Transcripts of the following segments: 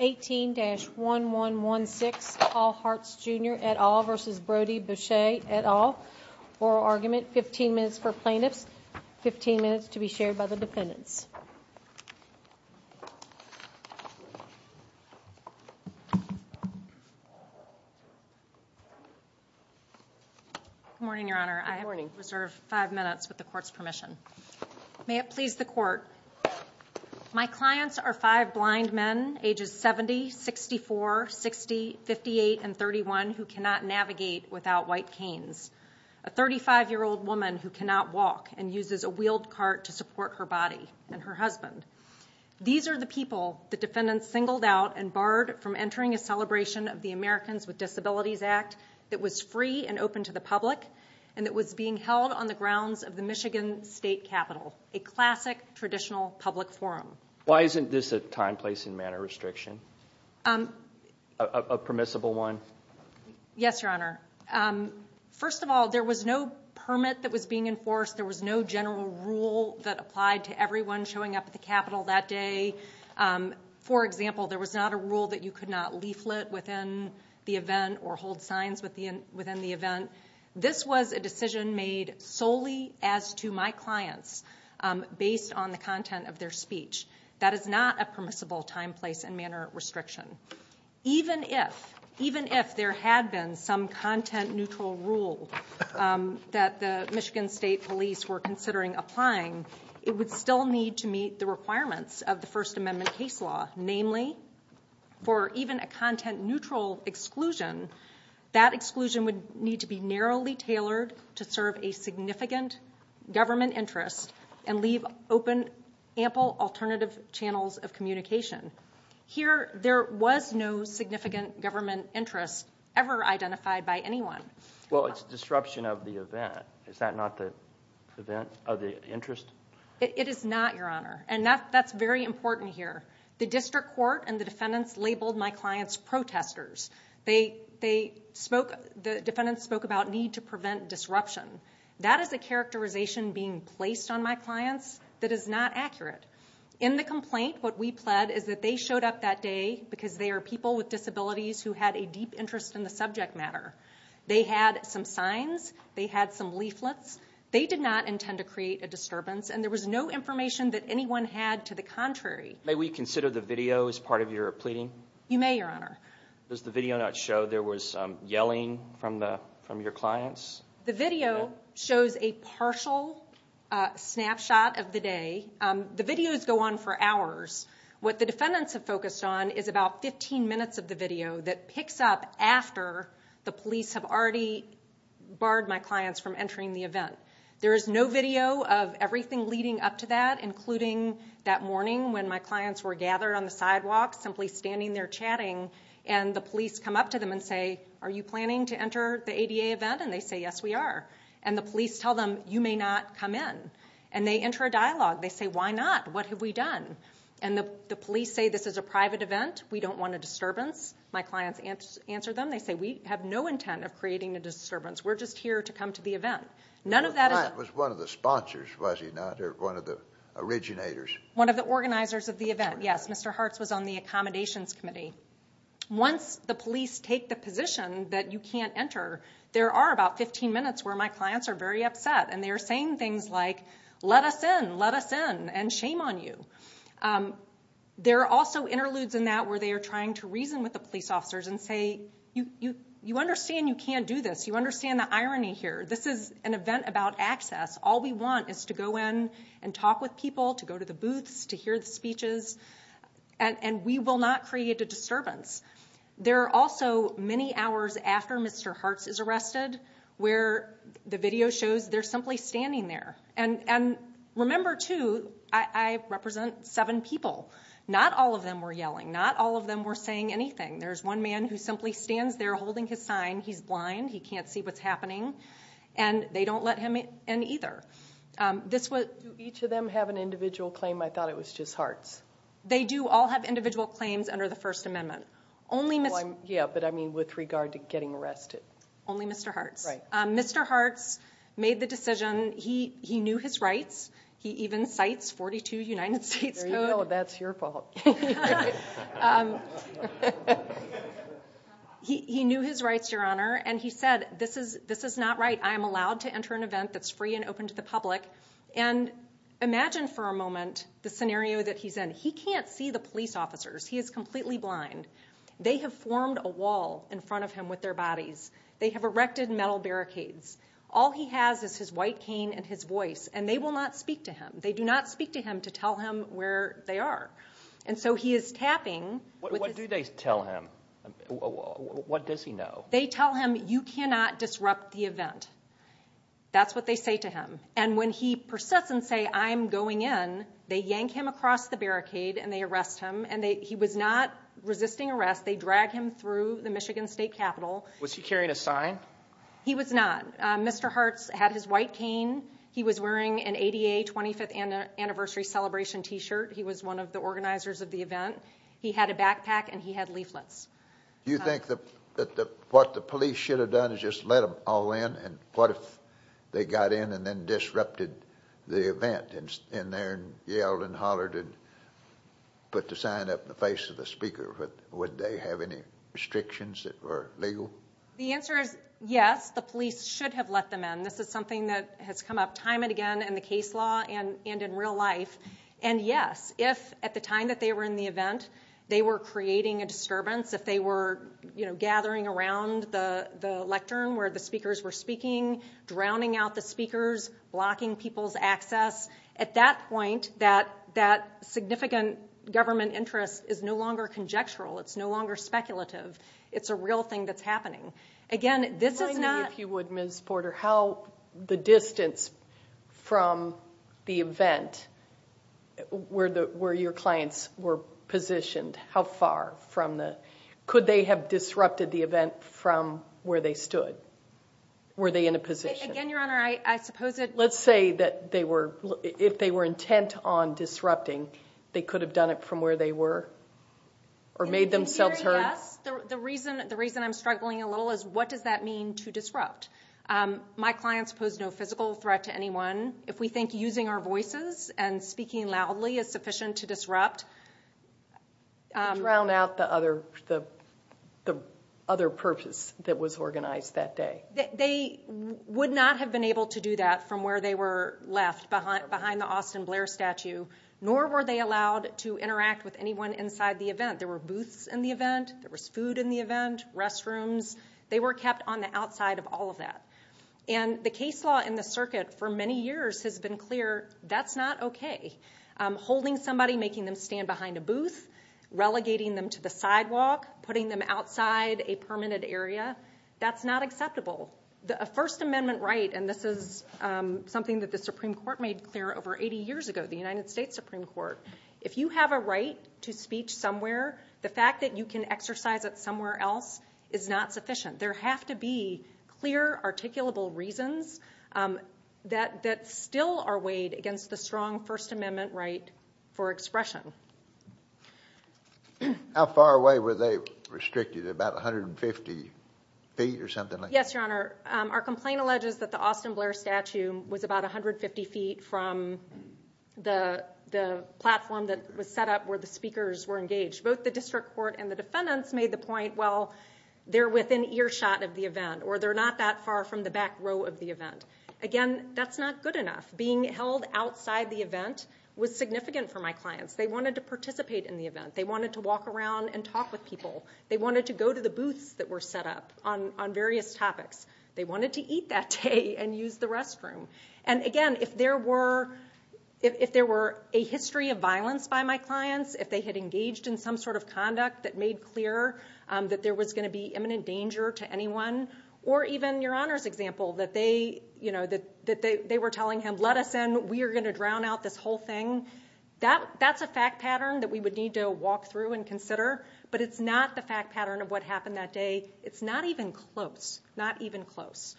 18-1116 Paul Harcz Jr. v. Brody Boucher Oral argument 15 minutes for plaintiffs, 15 minutes to be shared by the defendants May it please the Court, my clients are five blind men ages 70, 64, 60, 58 and 31 who cannot navigate without white canes. A 35 year old woman who cannot walk and uses a wheeled cart to support her body and her husband. These are the people the defendants singled out and barred from entering a celebration of the Americans with Disabilities Act that was free and open to the public and that was being held on the grounds of the Michigan State Capitol, a classic traditional public forum. Why isn't this a time, place and manner restriction? A permissible one? Yes, Your Honor. First of all, there was no permit that was being enforced. There was no general rule that applied to everyone showing up at the Capitol that day. For example, there was not a rule that you could not leaflet within the event or hold signs within the event. This was a decision made solely as to my clients based on the content of their speech. That is not a permissible time, place and manner restriction. Even if there had been some content neutral rule that the Michigan State police were considering applying, it would still need to meet the requirements of the First Amendment case law. Namely, for even a content neutral exclusion, that exclusion would need to be narrowly tailored to serve a significant government interest and leave open ample alternative channels of communication. Here, there was no significant government interest ever identified by anyone. Well, it's disruption of the event. Is that not the event of the interest? It is not, Your Honor, and that's very important here. The district court and the defendants labeled my clients protesters. The defendants spoke about need to prevent disruption. That is a characterization being placed on my clients that is not accurate. In the complaint, what we pled is that they showed up that day because they are people with disabilities who had a deep interest in the subject matter. They had some signs. They had some leaflets. They did not intend to create a disturbance, and there was no information that anyone had to the contrary. May we consider the video as part of your pleading? You may, Your Honor. Does the video not show there was yelling from your clients? The video shows a partial snapshot of the day. The videos go on for hours. What the defendants have focused on is about 15 minutes of the video that picks up after the police have already barred my clients from entering the event. There is no video of everything leading up to that, including that morning when my clients were gathered on the sidewalk simply standing there chatting, and the police come up to them and say, Are you planning to enter the ADA event? And they say, Yes, we are. And the police tell them, You may not come in. And they enter a dialogue. They say, Why not? What have we done? And the police say, This is a private event. We don't want a disturbance. My clients answer them. They say, We have no intent of creating a disturbance. We're just here to come to the event. Your client was one of the sponsors, was he not, or one of the originators? One of the organizers of the event, yes. Mr. Hartz was on the accommodations committee. Once the police take the position that you can't enter, there are about 15 minutes where my clients are very upset, and they are saying things like, Let us in, let us in, and shame on you. There are also interludes in that where they are trying to reason with the police officers and say, You understand you can't do this. You understand the irony here. This is an event about access. All we want is to go in and talk with people, to go to the booths, to hear the speeches, and we will not create a disturbance. There are also many hours after Mr. Hartz is arrested where the video shows they're simply standing there. Remember, too, I represent seven people. Not all of them were yelling. Not all of them were saying anything. There's one man who simply stands there holding his sign. He's blind. He can't see what's happening, and they don't let him in either. Do each of them have an individual claim? I thought it was just Hartz. They do all have individual claims under the First Amendment. Yeah, but I mean with regard to getting arrested. Only Mr. Hartz. Right. He made the decision. He knew his rights. He even cites 42 United States Code. There you go. That's your fault. He knew his rights, Your Honor, and he said, This is not right. I am allowed to enter an event that's free and open to the public. And imagine for a moment the scenario that he's in. He can't see the police officers. He is completely blind. They have formed a wall in front of him with their bodies. They have erected metal barricades. All he has is his white cane and his voice, and they will not speak to him. They do not speak to him to tell him where they are. And so he is tapping. What do they tell him? What does he know? They tell him, You cannot disrupt the event. That's what they say to him. And when he persists and says, I'm going in, they yank him across the barricade and they arrest him, and he was not resisting arrest. They drag him through the Michigan State Capitol. Was he carrying a sign? He was not. Mr. Hartz had his white cane. He was wearing an ADA 25th anniversary celebration T-shirt. He was one of the organizers of the event. He had a backpack, and he had leaflets. Do you think that what the police should have done is just let them all in, and what if they got in and then disrupted the event and in there and yelled and hollered and put the sign up in the face of the speaker? Would they have any restrictions that were legal? The answer is yes, the police should have let them in. This is something that has come up time and again in the case law and in real life. And yes, if at the time that they were in the event they were creating a disturbance, if they were gathering around the lectern where the speakers were speaking, drowning out the speakers, blocking people's access, at that point that significant government interest is no longer conjectural. It's no longer speculative. It's a real thing that's happening. Again, this is not— If you would, Ms. Porter, how the distance from the event where your clients were positioned, how far from the—could they have disrupted the event from where they stood? Were they in a position? Again, Your Honor, I suppose it— Let's say that they were—if they were intent on disrupting, they could have done it from where they were or made themselves heard? Yes. The reason I'm struggling a little is what does that mean to disrupt? My clients pose no physical threat to anyone. If we think using our voices and speaking loudly is sufficient to disrupt— Drown out the other purpose that was organized that day. They would not have been able to do that from where they were left, behind the Austin Blair statue, nor were they allowed to interact with anyone inside the event. There were booths in the event. There was food in the event, restrooms. They were kept on the outside of all of that. The case law in the circuit for many years has been clear that's not okay. Holding somebody, making them stand behind a booth, relegating them to the sidewalk, putting them outside a permitted area, that's not acceptable. A First Amendment right—and this is something that the Supreme Court made clear over 80 years ago, the United States Supreme Court—if you have a right to speech somewhere, the fact that you can exercise it somewhere else is not sufficient. There have to be clear, articulable reasons that still are weighed against the strong First Amendment right for expression. How far away were they restricted? About 150 feet or something like that? Yes, Your Honor. Our complaint alleges that the Austin Blair statue was about 150 feet from the platform that was set up where the speakers were engaged. Both the district court and the defendants made the point, well, they're within earshot of the event or they're not that far from the back row of the event. Again, that's not good enough. Being held outside the event was significant for my clients. They wanted to participate in the event. They wanted to walk around and talk with people. They wanted to go to the booths that were set up on various topics. They wanted to eat that day and use the restroom. Again, if there were a history of violence by my clients, if they had engaged in some sort of conduct that made clear that there was going to be imminent danger to anyone, or even Your Honor's example, that they were telling him, let us in, we are going to drown out this whole thing. That's a fact pattern that we would need to walk through and consider, but it's not the fact pattern of what happened that day. It's not even close, not even close.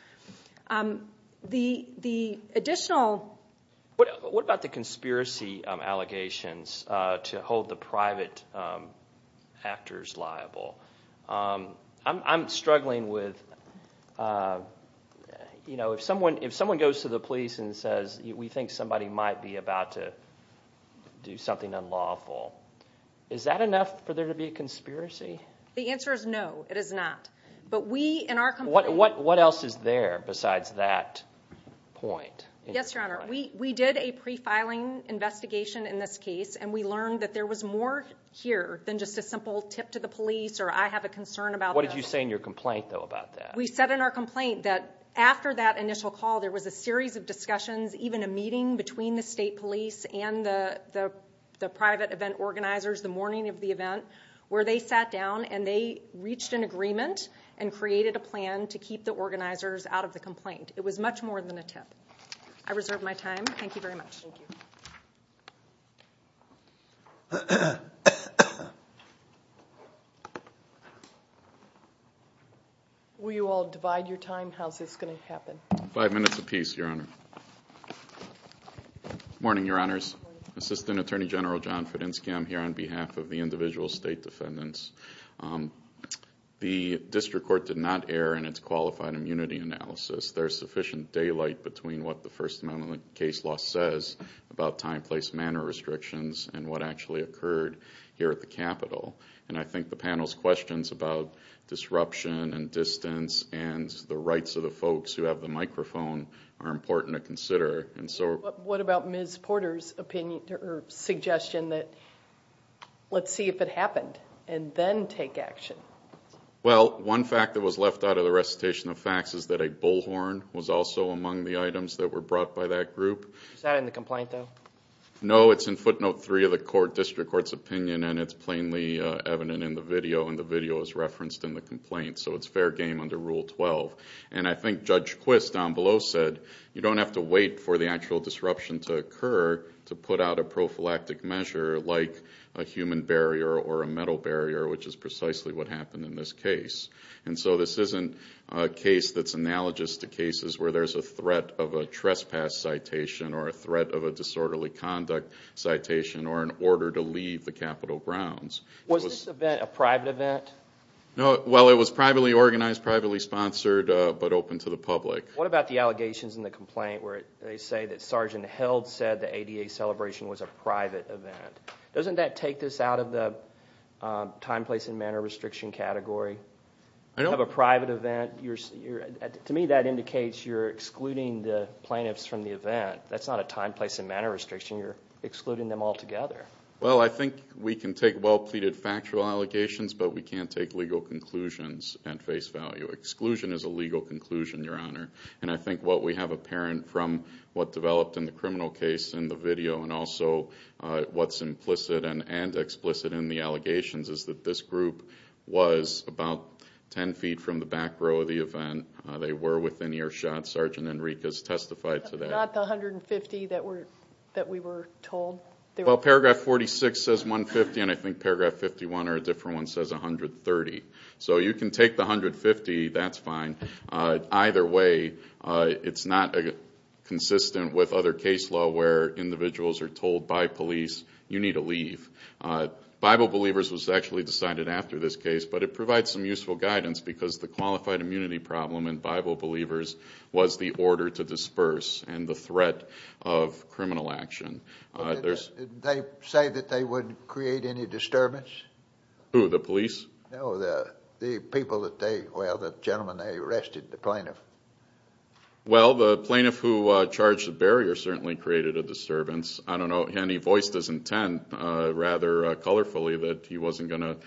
The additional... What about the conspiracy allegations to hold the private actors liable? I'm struggling with, you know, if someone goes to the police and says, we think somebody might be about to do something unlawful, is that enough for there to be a conspiracy? The answer is no, it is not. What else is there besides that point? Yes, Your Honor. We did a pre-filing investigation in this case, and we learned that there was more here than just a simple tip to the police or I have a concern about this. What did you say in your complaint, though, about that? We said in our complaint that after that initial call, there was a series of discussions, even a meeting between the state police and the private event organizers the morning of the event, where they sat down and they reached an agreement and created a plan to keep the organizers out of the complaint. It was much more than a tip. I reserve my time. Thank you very much. Thank you. Will you all divide your time? How is this going to happen? Five minutes apiece, Your Honor. Morning, Your Honors. Assistant Attorney General John Fedenski, I'm here on behalf of the individual state defendants. The district court did not err in its qualified immunity analysis. There is sufficient daylight between what the First Amendment case law says about time, place, manner restrictions and what actually occurred here at the Capitol. I think the panel's questions about disruption and distance and the rights of the folks who have the microphone are important to consider. What about Ms. Porter's suggestion that let's see if it happened and then take action? Well, one fact that was left out of the recitation of facts is that a bullhorn was also among the items that were brought by that group. Is that in the complaint, though? No, it's in footnote three of the court district court's opinion and it's plainly evident in the video and the video is referenced in the complaint. So it's fair game under Rule 12. And I think Judge Quist down below said you don't have to wait for the actual disruption to occur to put out a prophylactic measure like a human barrier or a metal barrier, which is precisely what happened in this case. And so this isn't a case that's analogous to cases where there's a threat of a trespass citation or a threat of a disorderly conduct citation or an order to leave the Capitol grounds. Was this event a private event? No, well, it was privately organized, privately sponsored, but open to the public. What about the allegations in the complaint where they say that Sergeant Held said the ADA celebration was a private event? Doesn't that take this out of the time, place, and manner restriction category? You have a private event. To me, that indicates you're excluding the plaintiffs from the event. That's not a time, place, and manner restriction. You're excluding them altogether. Well, I think we can take well-pleaded factual allegations, but we can't take legal conclusions at face value. Exclusion is a legal conclusion, Your Honor, and I think what we have apparent from what developed in the criminal case in the video and also what's implicit and explicit in the allegations is that this group was about 10 feet from the back row of the event. They were within earshot. Sergeant Enriquez testified to that. Not the 150 that we were told? Well, Paragraph 46 says 150, and I think Paragraph 51 or a different one says 130. So you can take the 150. That's fine. Either way, it's not consistent with other case law where individuals are told by police you need to leave. Bible Believers was actually decided after this case, but it provides some useful guidance because the qualified immunity problem in Bible Believers was the order to disperse and the threat of criminal action. Did they say that they wouldn't create any disturbance? Who, the police? No, the people that they, well, the gentleman they arrested, the plaintiff. Well, the plaintiff who charged the barrier certainly created a disturbance. I don't know. And he voiced his intent rather colorfully that he wasn't going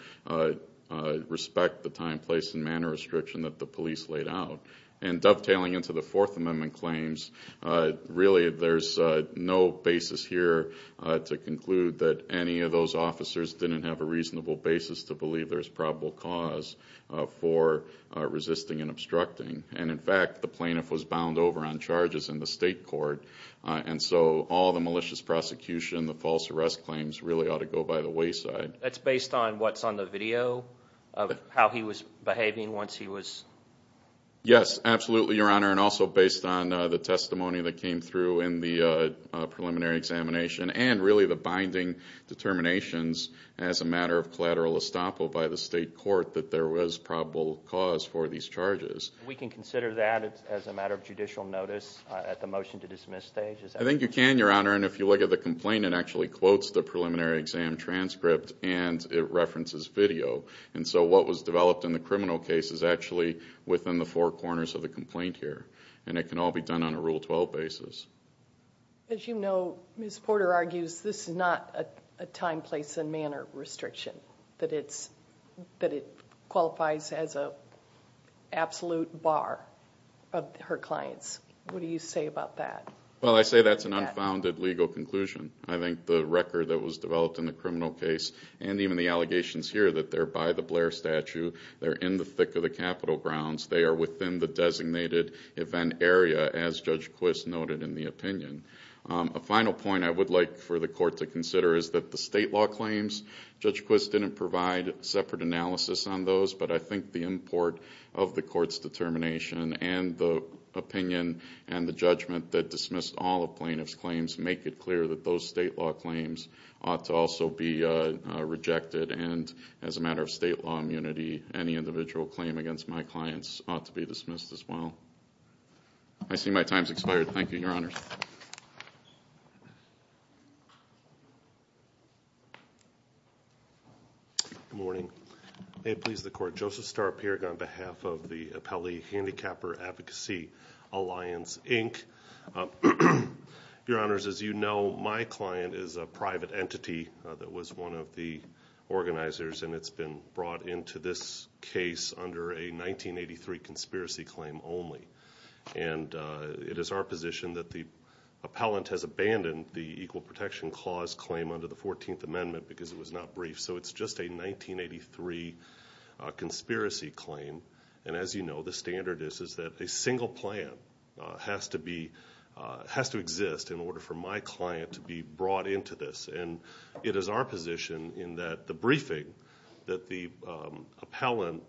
to respect the time, place, and manner restriction that the police laid out. And dovetailing into the Fourth Amendment claims, really there's no basis here to conclude that any of those officers didn't have a reasonable basis to believe there's probable cause for resisting and obstructing. And, in fact, the plaintiff was bound over on charges in the state court, and so all the malicious prosecution, the false arrest claims, really ought to go by the wayside. That's based on what's on the video of how he was behaving once he was? Yes, absolutely, Your Honor, and also based on the testimony that came through in the preliminary examination and really the binding determinations as a matter of collateral estoppel by the state court that there was probable cause for these charges. We can consider that as a matter of judicial notice at the motion to dismiss stage? I think you can, Your Honor, and if you look at the complaint, it actually quotes the preliminary exam transcript and it references video. And so what was developed in the criminal case is actually within the four corners of the complaint here, and it can all be done on a Rule 12 basis. As you know, Ms. Porter argues this is not a time, place, and manner restriction, that it qualifies as an absolute bar of her clients. What do you say about that? Well, I say that's an unfounded legal conclusion. I think the record that was developed in the criminal case and even the allegations here that they're by the Blair statue, they're in the thick of the capital grounds, they are within the designated event area as Judge Quist noted in the opinion. A final point I would like for the court to consider is that the state law claims, Judge Quist didn't provide separate analysis on those, but I think the import of the court's determination and the opinion and the judgment that dismissed all the plaintiff's claims make it clear that those state law claims ought to also be rejected and as a matter of state law immunity, any individual claim against my clients ought to be dismissed as well. I see my time's expired. Thank you, Your Honors. Good morning. May it please the Court. Joseph Starp here on behalf of the Appellee Handicapper Advocacy Alliance, Inc. Your Honors, as you know, my client is a private entity that was one of the organizers and it's been brought into this case under a 1983 conspiracy claim only. And it is our position that the appellant has abandoned the Equal Protection Clause claim under the 14th Amendment because it was not brief, so it's just a 1983 conspiracy claim. And as you know, the standard is that a single plan has to exist in order for my client to be brought into this. And it is our position in that the briefing that the appellant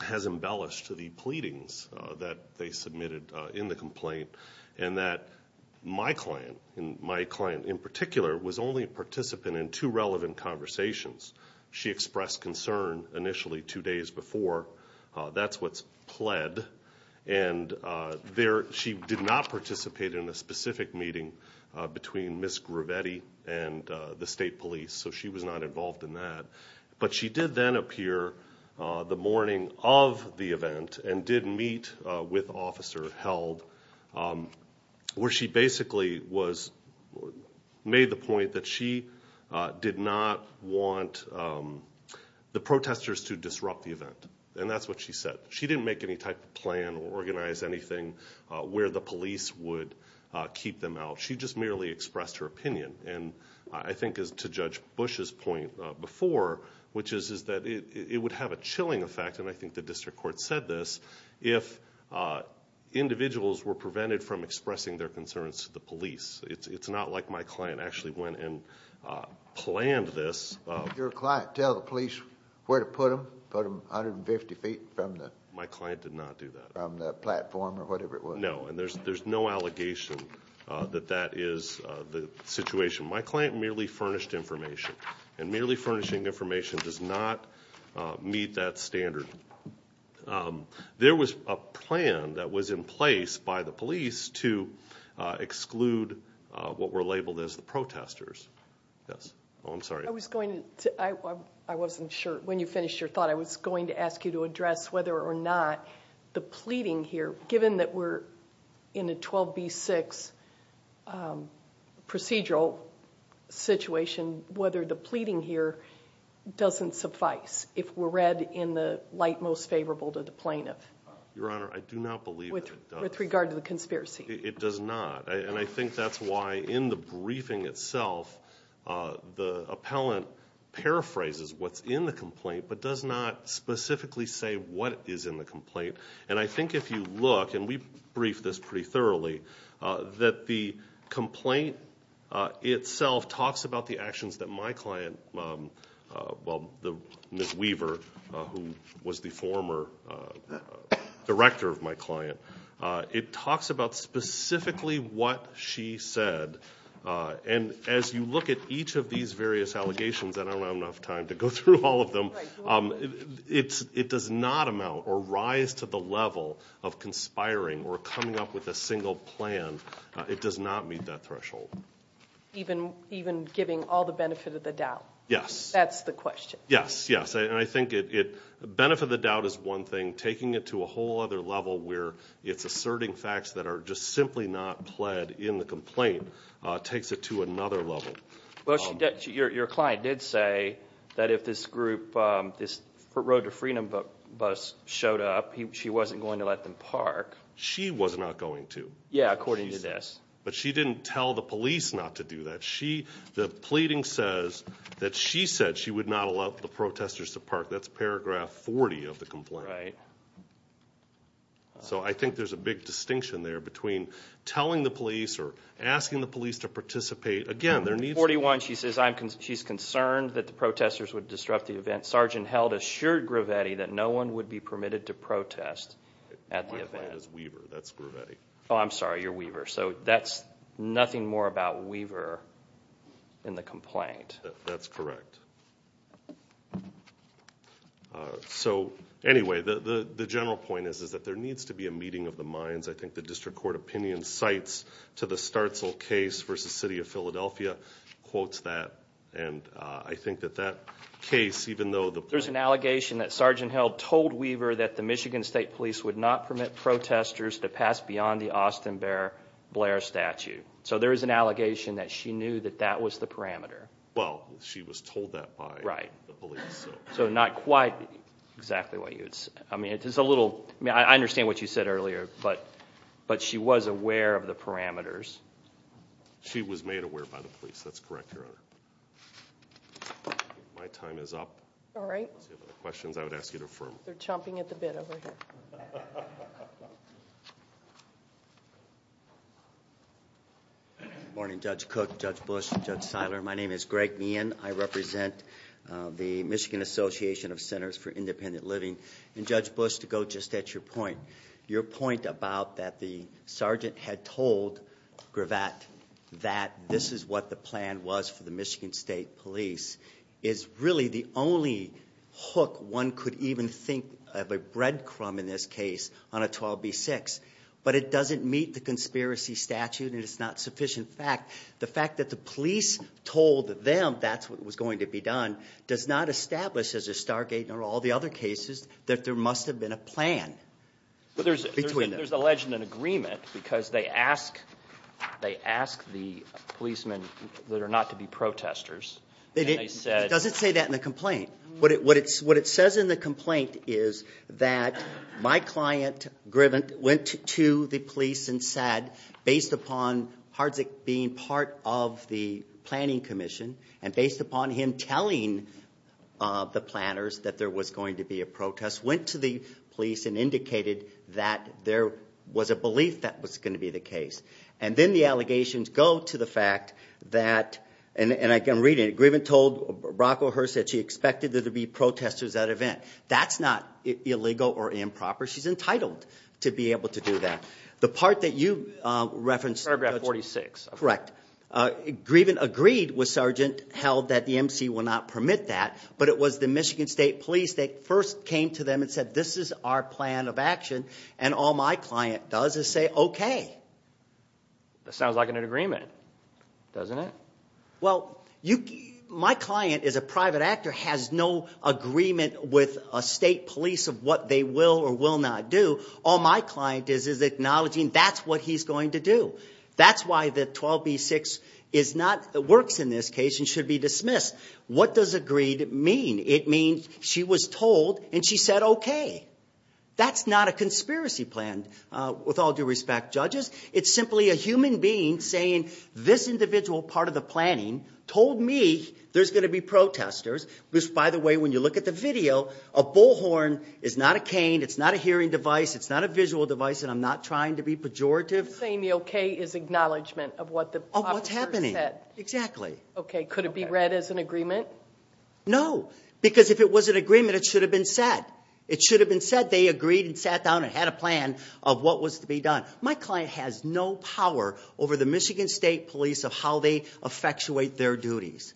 has embellished to the pleadings that they submitted in the complaint and that my client in particular was only a participant in two relevant conversations. She expressed concern initially two days before. That's what's pled. And she did not participate in a specific meeting between Ms. Gravetti and the state police, so she was not involved in that. But she did then appear the morning of the event and did meet with Officer Held where she basically made the point that she did not want the protesters to disrupt the event. And that's what she said. She didn't make any type of plan or organize anything where the police would keep them out. She just merely expressed her opinion. And I think as to Judge Bush's point before, which is that it would have a chilling effect, and I think the district court said this, if individuals were prevented from expressing their concerns to the police. It's not like my client actually went and planned this. Did your client tell the police where to put them? Put them 150 feet from the platform or whatever it was? No, and there's no allegation that that is the situation. My client merely furnished information, and merely furnishing information does not meet that standard. There was a plan that was in place by the police to exclude what were labeled as the protesters. Oh, I'm sorry. I wasn't sure when you finished your thought. I was going to ask you to address whether or not the pleading here, given that we're in a 12b-6 procedural situation, whether the pleading here doesn't suffice if we're read in the light most favorable to the plaintiff. Your Honor, I do not believe it does. With regard to the conspiracy. It does not. And I think that's why, in the briefing itself, the appellant paraphrases what's in the complaint, but does not specifically say what is in the complaint. And I think if you look, and we briefed this pretty thoroughly, that the complaint itself talks about the actions that my client, well, Ms. Weaver, who was the former director of my client, it talks about specifically what she said. And as you look at each of these various allegations, and I don't have enough time to go through all of them, it does not amount or rise to the level of conspiring or coming up with a single plan. It does not meet that threshold. Even giving all the benefit of the doubt? Yes. That's the question. Yes, yes. And I think benefit of the doubt is one thing. Taking it to a whole other level where it's asserting facts that are just simply not pled in the complaint takes it to another level. Well, your client did say that if this group, this Road to Freedom bus showed up, she wasn't going to let them park. She was not going to. Yes, according to this. But she didn't tell the police not to do that. The pleading says that she said she would not allow the protesters to park. That's paragraph 40 of the complaint. All right. So I think there's a big distinction there between telling the police or asking the police to participate. Again, there needs to be. 41, she says she's concerned that the protesters would disrupt the event. Sergeant Held assured Gravetti that no one would be permitted to protest at the event. My client is Weaver. That's Gravetti. Oh, I'm sorry. You're Weaver. So that's nothing more about Weaver in the complaint. That's correct. So, anyway, the general point is that there needs to be a meeting of the minds. I think the district court opinion cites to the Starzl case versus City of Philadelphia, quotes that, and I think that that case, even though the- There's an allegation that Sergeant Held told Weaver that the Michigan State Police would not permit protesters to pass beyond the Austin Bear Blair statute. So there is an allegation that she knew that that was the parameter. Well, she was told that by the police. So not quite exactly what you would say. I understand what you said earlier, but she was aware of the parameters. She was made aware by the police. That's correct, Your Honor. My time is up. All right. If you have any questions, I would ask you to affirm. They're chomping at the bit over here. Morning, Judge Cook, Judge Bush, Judge Seiler. My name is Greg Meehan. I represent the Michigan Association of Centers for Independent Living. And, Judge Bush, to go just at your point, your point about that the sergeant had told Gravatt that this is what the plan was for the Michigan State Police is really the only hook one could even think of, a breadcrumb in this case, on a 12b6. But it doesn't meet the conspiracy statute, and it's not sufficient fact. The fact that the police told them that's what was going to be done does not establish, as does Stargate and all the other cases, that there must have been a plan between them. Well, there's a legend and agreement because they ask the policemen that are not to be protesters. It doesn't say that in the complaint. What it says in the complaint is that my client, Griven, went to the police and said, based upon Hardzik being part of the planning commission and based upon him telling the planners that there was going to be a protest, went to the police and indicated that there was a belief that was going to be the case. And then the allegations go to the fact that, and I can read it, Griven told Brocklehurst that she expected there to be protesters at an event. That's not illegal or improper. She's entitled to be able to do that. The part that you referenced. Paragraph 46. Correct. Griven agreed with Sergeant Held that the MC will not permit that, but it was the Michigan State Police that first came to them and said, this is our plan of action, and all my client does is say okay. That sounds like an agreement, doesn't it? Well, my client is a private actor, has no agreement with a state police of what they will or will not do. All my client is is acknowledging that's what he's going to do. That's why the 12B6 works in this case and should be dismissed. What does agreed mean? It means she was told and she said okay. That's not a conspiracy plan, with all due respect, judges. It's simply a human being saying this individual part of the planning told me there's going to be protesters, which, by the way, when you look at the video, a bullhorn is not a cane, it's not a hearing device, it's not a visual device, and I'm not trying to be pejorative. Saying the okay is acknowledgement of what the officer said. Of what's happening. Exactly. Okay. Could it be read as an agreement? No, because if it was an agreement, it should have been said. It should have been said. They agreed and sat down and had a plan of what was to be done. My client has no power over the Michigan State Police of how they effectuate their duties.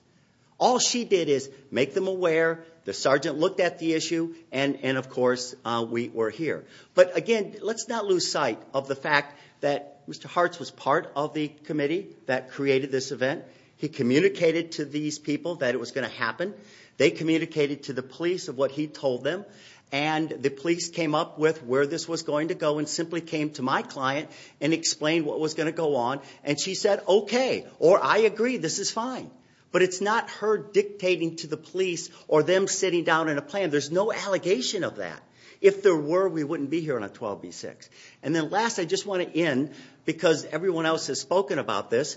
All she did is make them aware, the sergeant looked at the issue, and, of course, we're here. But, again, let's not lose sight of the fact that Mr. Hartz was part of the committee that created this event. He communicated to these people that it was going to happen. They communicated to the police of what he told them, and the police came up with where this was going to go and simply came to my client and explained what was going to go on, and she said, okay, or I agree, this is fine. But it's not her dictating to the police or them sitting down in a plan. There's no allegation of that. If there were, we wouldn't be here on a 12B6. And then last, I just want to end, because everyone else has spoken about this,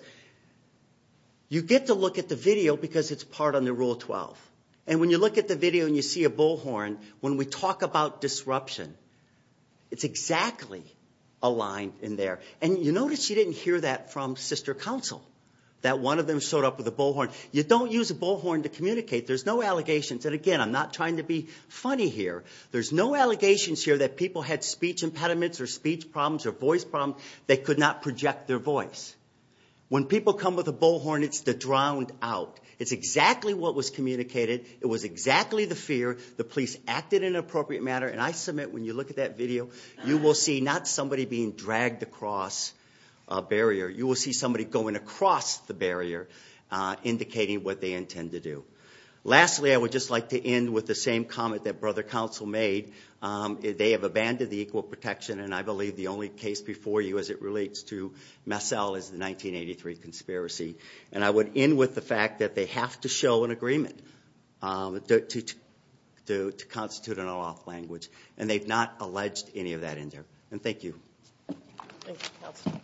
you get to look at the video because it's part on the Rule 12. And when you look at the video and you see a bullhorn, when we talk about disruption, it's exactly aligned in there. And you notice you didn't hear that from sister counsel, that one of them showed up with a bullhorn. You don't use a bullhorn to communicate. There's no allegations. And, again, I'm not trying to be funny here. There's no allegations here that people had speech impediments or speech problems or voice problems. They could not project their voice. When people come with a bullhorn, it's the drowned out. It's exactly what was communicated. It was exactly the fear. The police acted in an appropriate manner. And I submit when you look at that video, you will see not somebody being dragged across a barrier. You will see somebody going across the barrier indicating what they intend to do. Lastly, I would just like to end with the same comment that brother counsel made. They have abandoned the equal protection, and I believe the only case before you as it relates to Massel is the 1983 conspiracy. And I would end with the fact that they have to show an agreement to constitute an unlawful language, and they've not alleged any of that in there. And thank you. Thank you, counsel.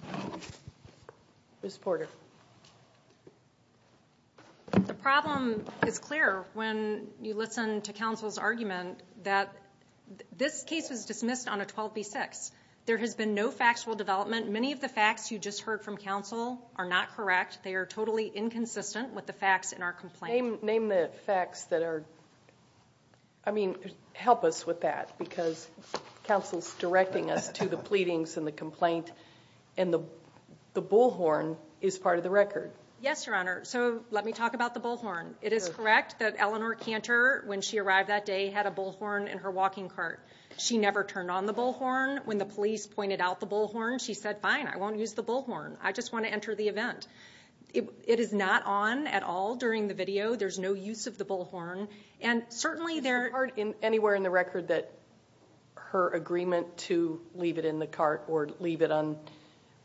Ms. Porter. The problem is clear when you listen to counsel's argument that this case was dismissed on a 12B6. There has been no factual development. Many of the facts you just heard from counsel are not correct. They are totally inconsistent with the facts in our complaint. Name the facts that are, I mean, help us with that, because counsel's directing us to the pleadings in the complaint, and the bullhorn is part of the record. Yes, Your Honor. So let me talk about the bullhorn. It is correct that Eleanor Cantor, when she arrived that day, had a bullhorn in her walking cart. She never turned on the bullhorn. When the police pointed out the bullhorn, she said, fine, I won't use the bullhorn. I just want to enter the event. It is not on at all during the video. There's no use of the bullhorn. And certainly there are. Is there part anywhere in the record that her agreement to leave it in the cart or leave it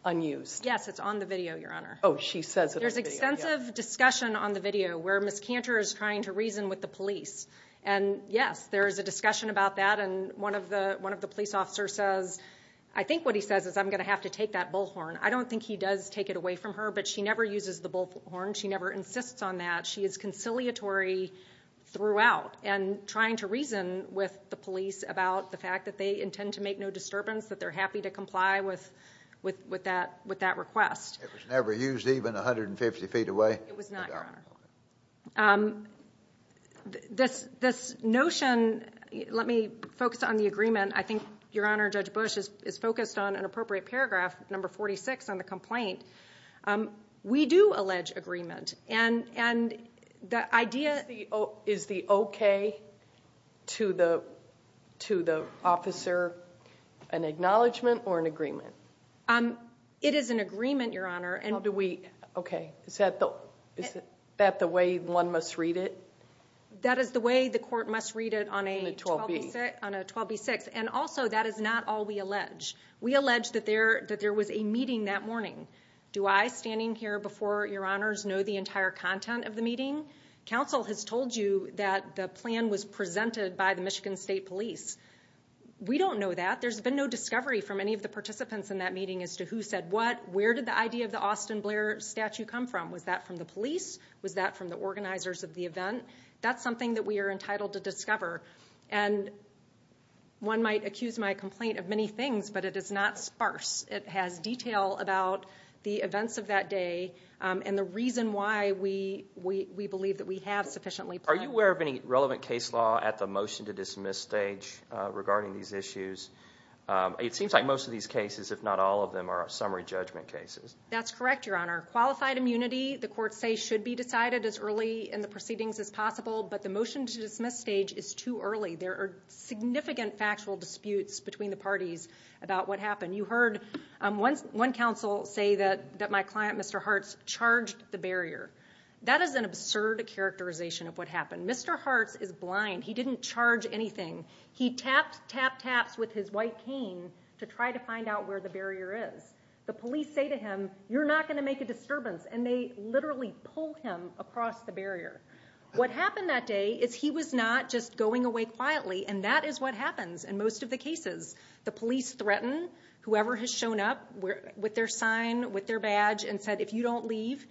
unused? Yes, it's on the video, Your Honor. Oh, she says it on the video. There's extensive discussion on the video where Ms. Cantor is trying to reason with the police. And, yes, there is a discussion about that, and one of the police officers says, I think what he says is I'm going to have to take that bullhorn. I don't think he does take it away from her, but she never uses the bullhorn. She never insists on that. She is conciliatory throughout and trying to reason with the police about the fact that they intend to make no disturbance, that they're happy to comply with that request. It was never used even 150 feet away? It was not, Your Honor. Okay. This notion, let me focus on the agreement. And I think, Your Honor, Judge Bush is focused on an appropriate paragraph, number 46 on the complaint. We do allege agreement. And the idea is the okay to the officer an acknowledgment or an agreement? It is an agreement, Your Honor. Okay. Is that the way one must read it? That is the way the court must read it on a 12B6. And, also, that is not all we allege. We allege that there was a meeting that morning. Do I, standing here before Your Honors, know the entire content of the meeting? Counsel has told you that the plan was presented by the Michigan State Police. We don't know that. There's been no discovery from any of the participants in that meeting as to who said what, where did the idea of the Austin Blair statue come from? Was that from the police? Was that from the organizers of the event? That's something that we are entitled to discover. And one might accuse my complaint of many things, but it is not sparse. It has detail about the events of that day and the reason why we believe that we have sufficiently planned. Are you aware of any relevant case law at the motion to dismiss stage regarding these issues? It seems like most of these cases, if not all of them, are summary judgment cases. That's correct, Your Honor. Qualified immunity, the courts say, should be decided as early in the proceedings as possible, but the motion to dismiss stage is too early. There are significant factual disputes between the parties about what happened. You heard one counsel say that my client, Mr. Hartz, charged the barrier. That is an absurd characterization of what happened. Mr. Hartz is blind. He didn't charge anything. He tapped, tapped, tapped with his white cane to try to find out where the barrier is. The police say to him, you're not going to make a disturbance, and they literally pull him across the barrier. What happened that day is he was not just going away quietly, and that is what happens in most of the cases. The police threaten whoever has shown up with their sign, with their badge, and said, if you don't leave,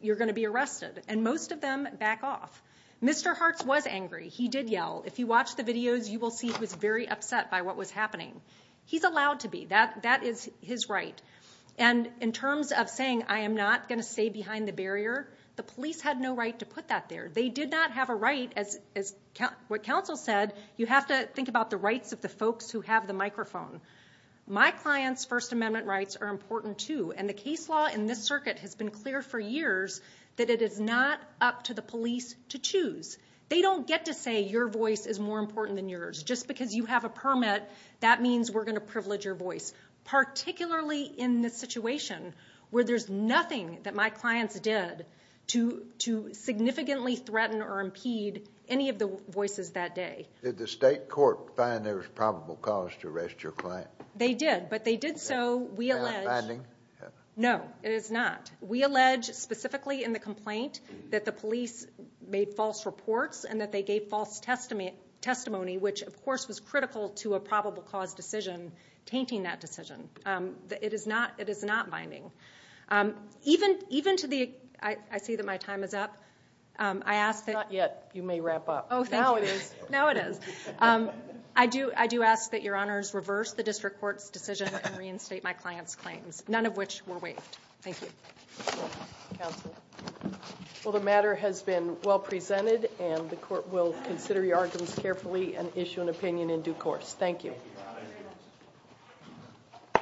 you're going to be arrested, and most of them back off. Mr. Hartz was angry. He did yell. If you watch the videos, you will see he was very upset by what was happening. He's allowed to be. That is his right. And in terms of saying I am not going to stay behind the barrier, the police had no right to put that there. They did not have a right, as what counsel said, you have to think about the rights of the folks who have the microphone. My client's First Amendment rights are important too, and the case law in this circuit has been clear for years that it is not up to the police to choose. They don't get to say your voice is more important than yours. Just because you have a permit, that means we're going to privilege your voice, particularly in this situation where there's nothing that my clients did to significantly threaten or impede any of the voices that day. Did the state court find there was probable cause to arrest your client? They did, but they did so, we allege. Without binding? No, it is not. We allege specifically in the complaint that the police made false reports and that they gave false testimony, which of course was critical to a probable cause decision, tainting that decision. It is not binding. Even to the, I see that my time is up. Not yet, you may wrap up. Oh, thank you. Now it is. Now it is. I do ask that your honors reverse the district court's decision and reinstate my client's claims, none of which were waived. Thank you. Counsel? Well, the matter has been well presented, and the court will consider your arguments carefully and issue an opinion in due course. Thank you.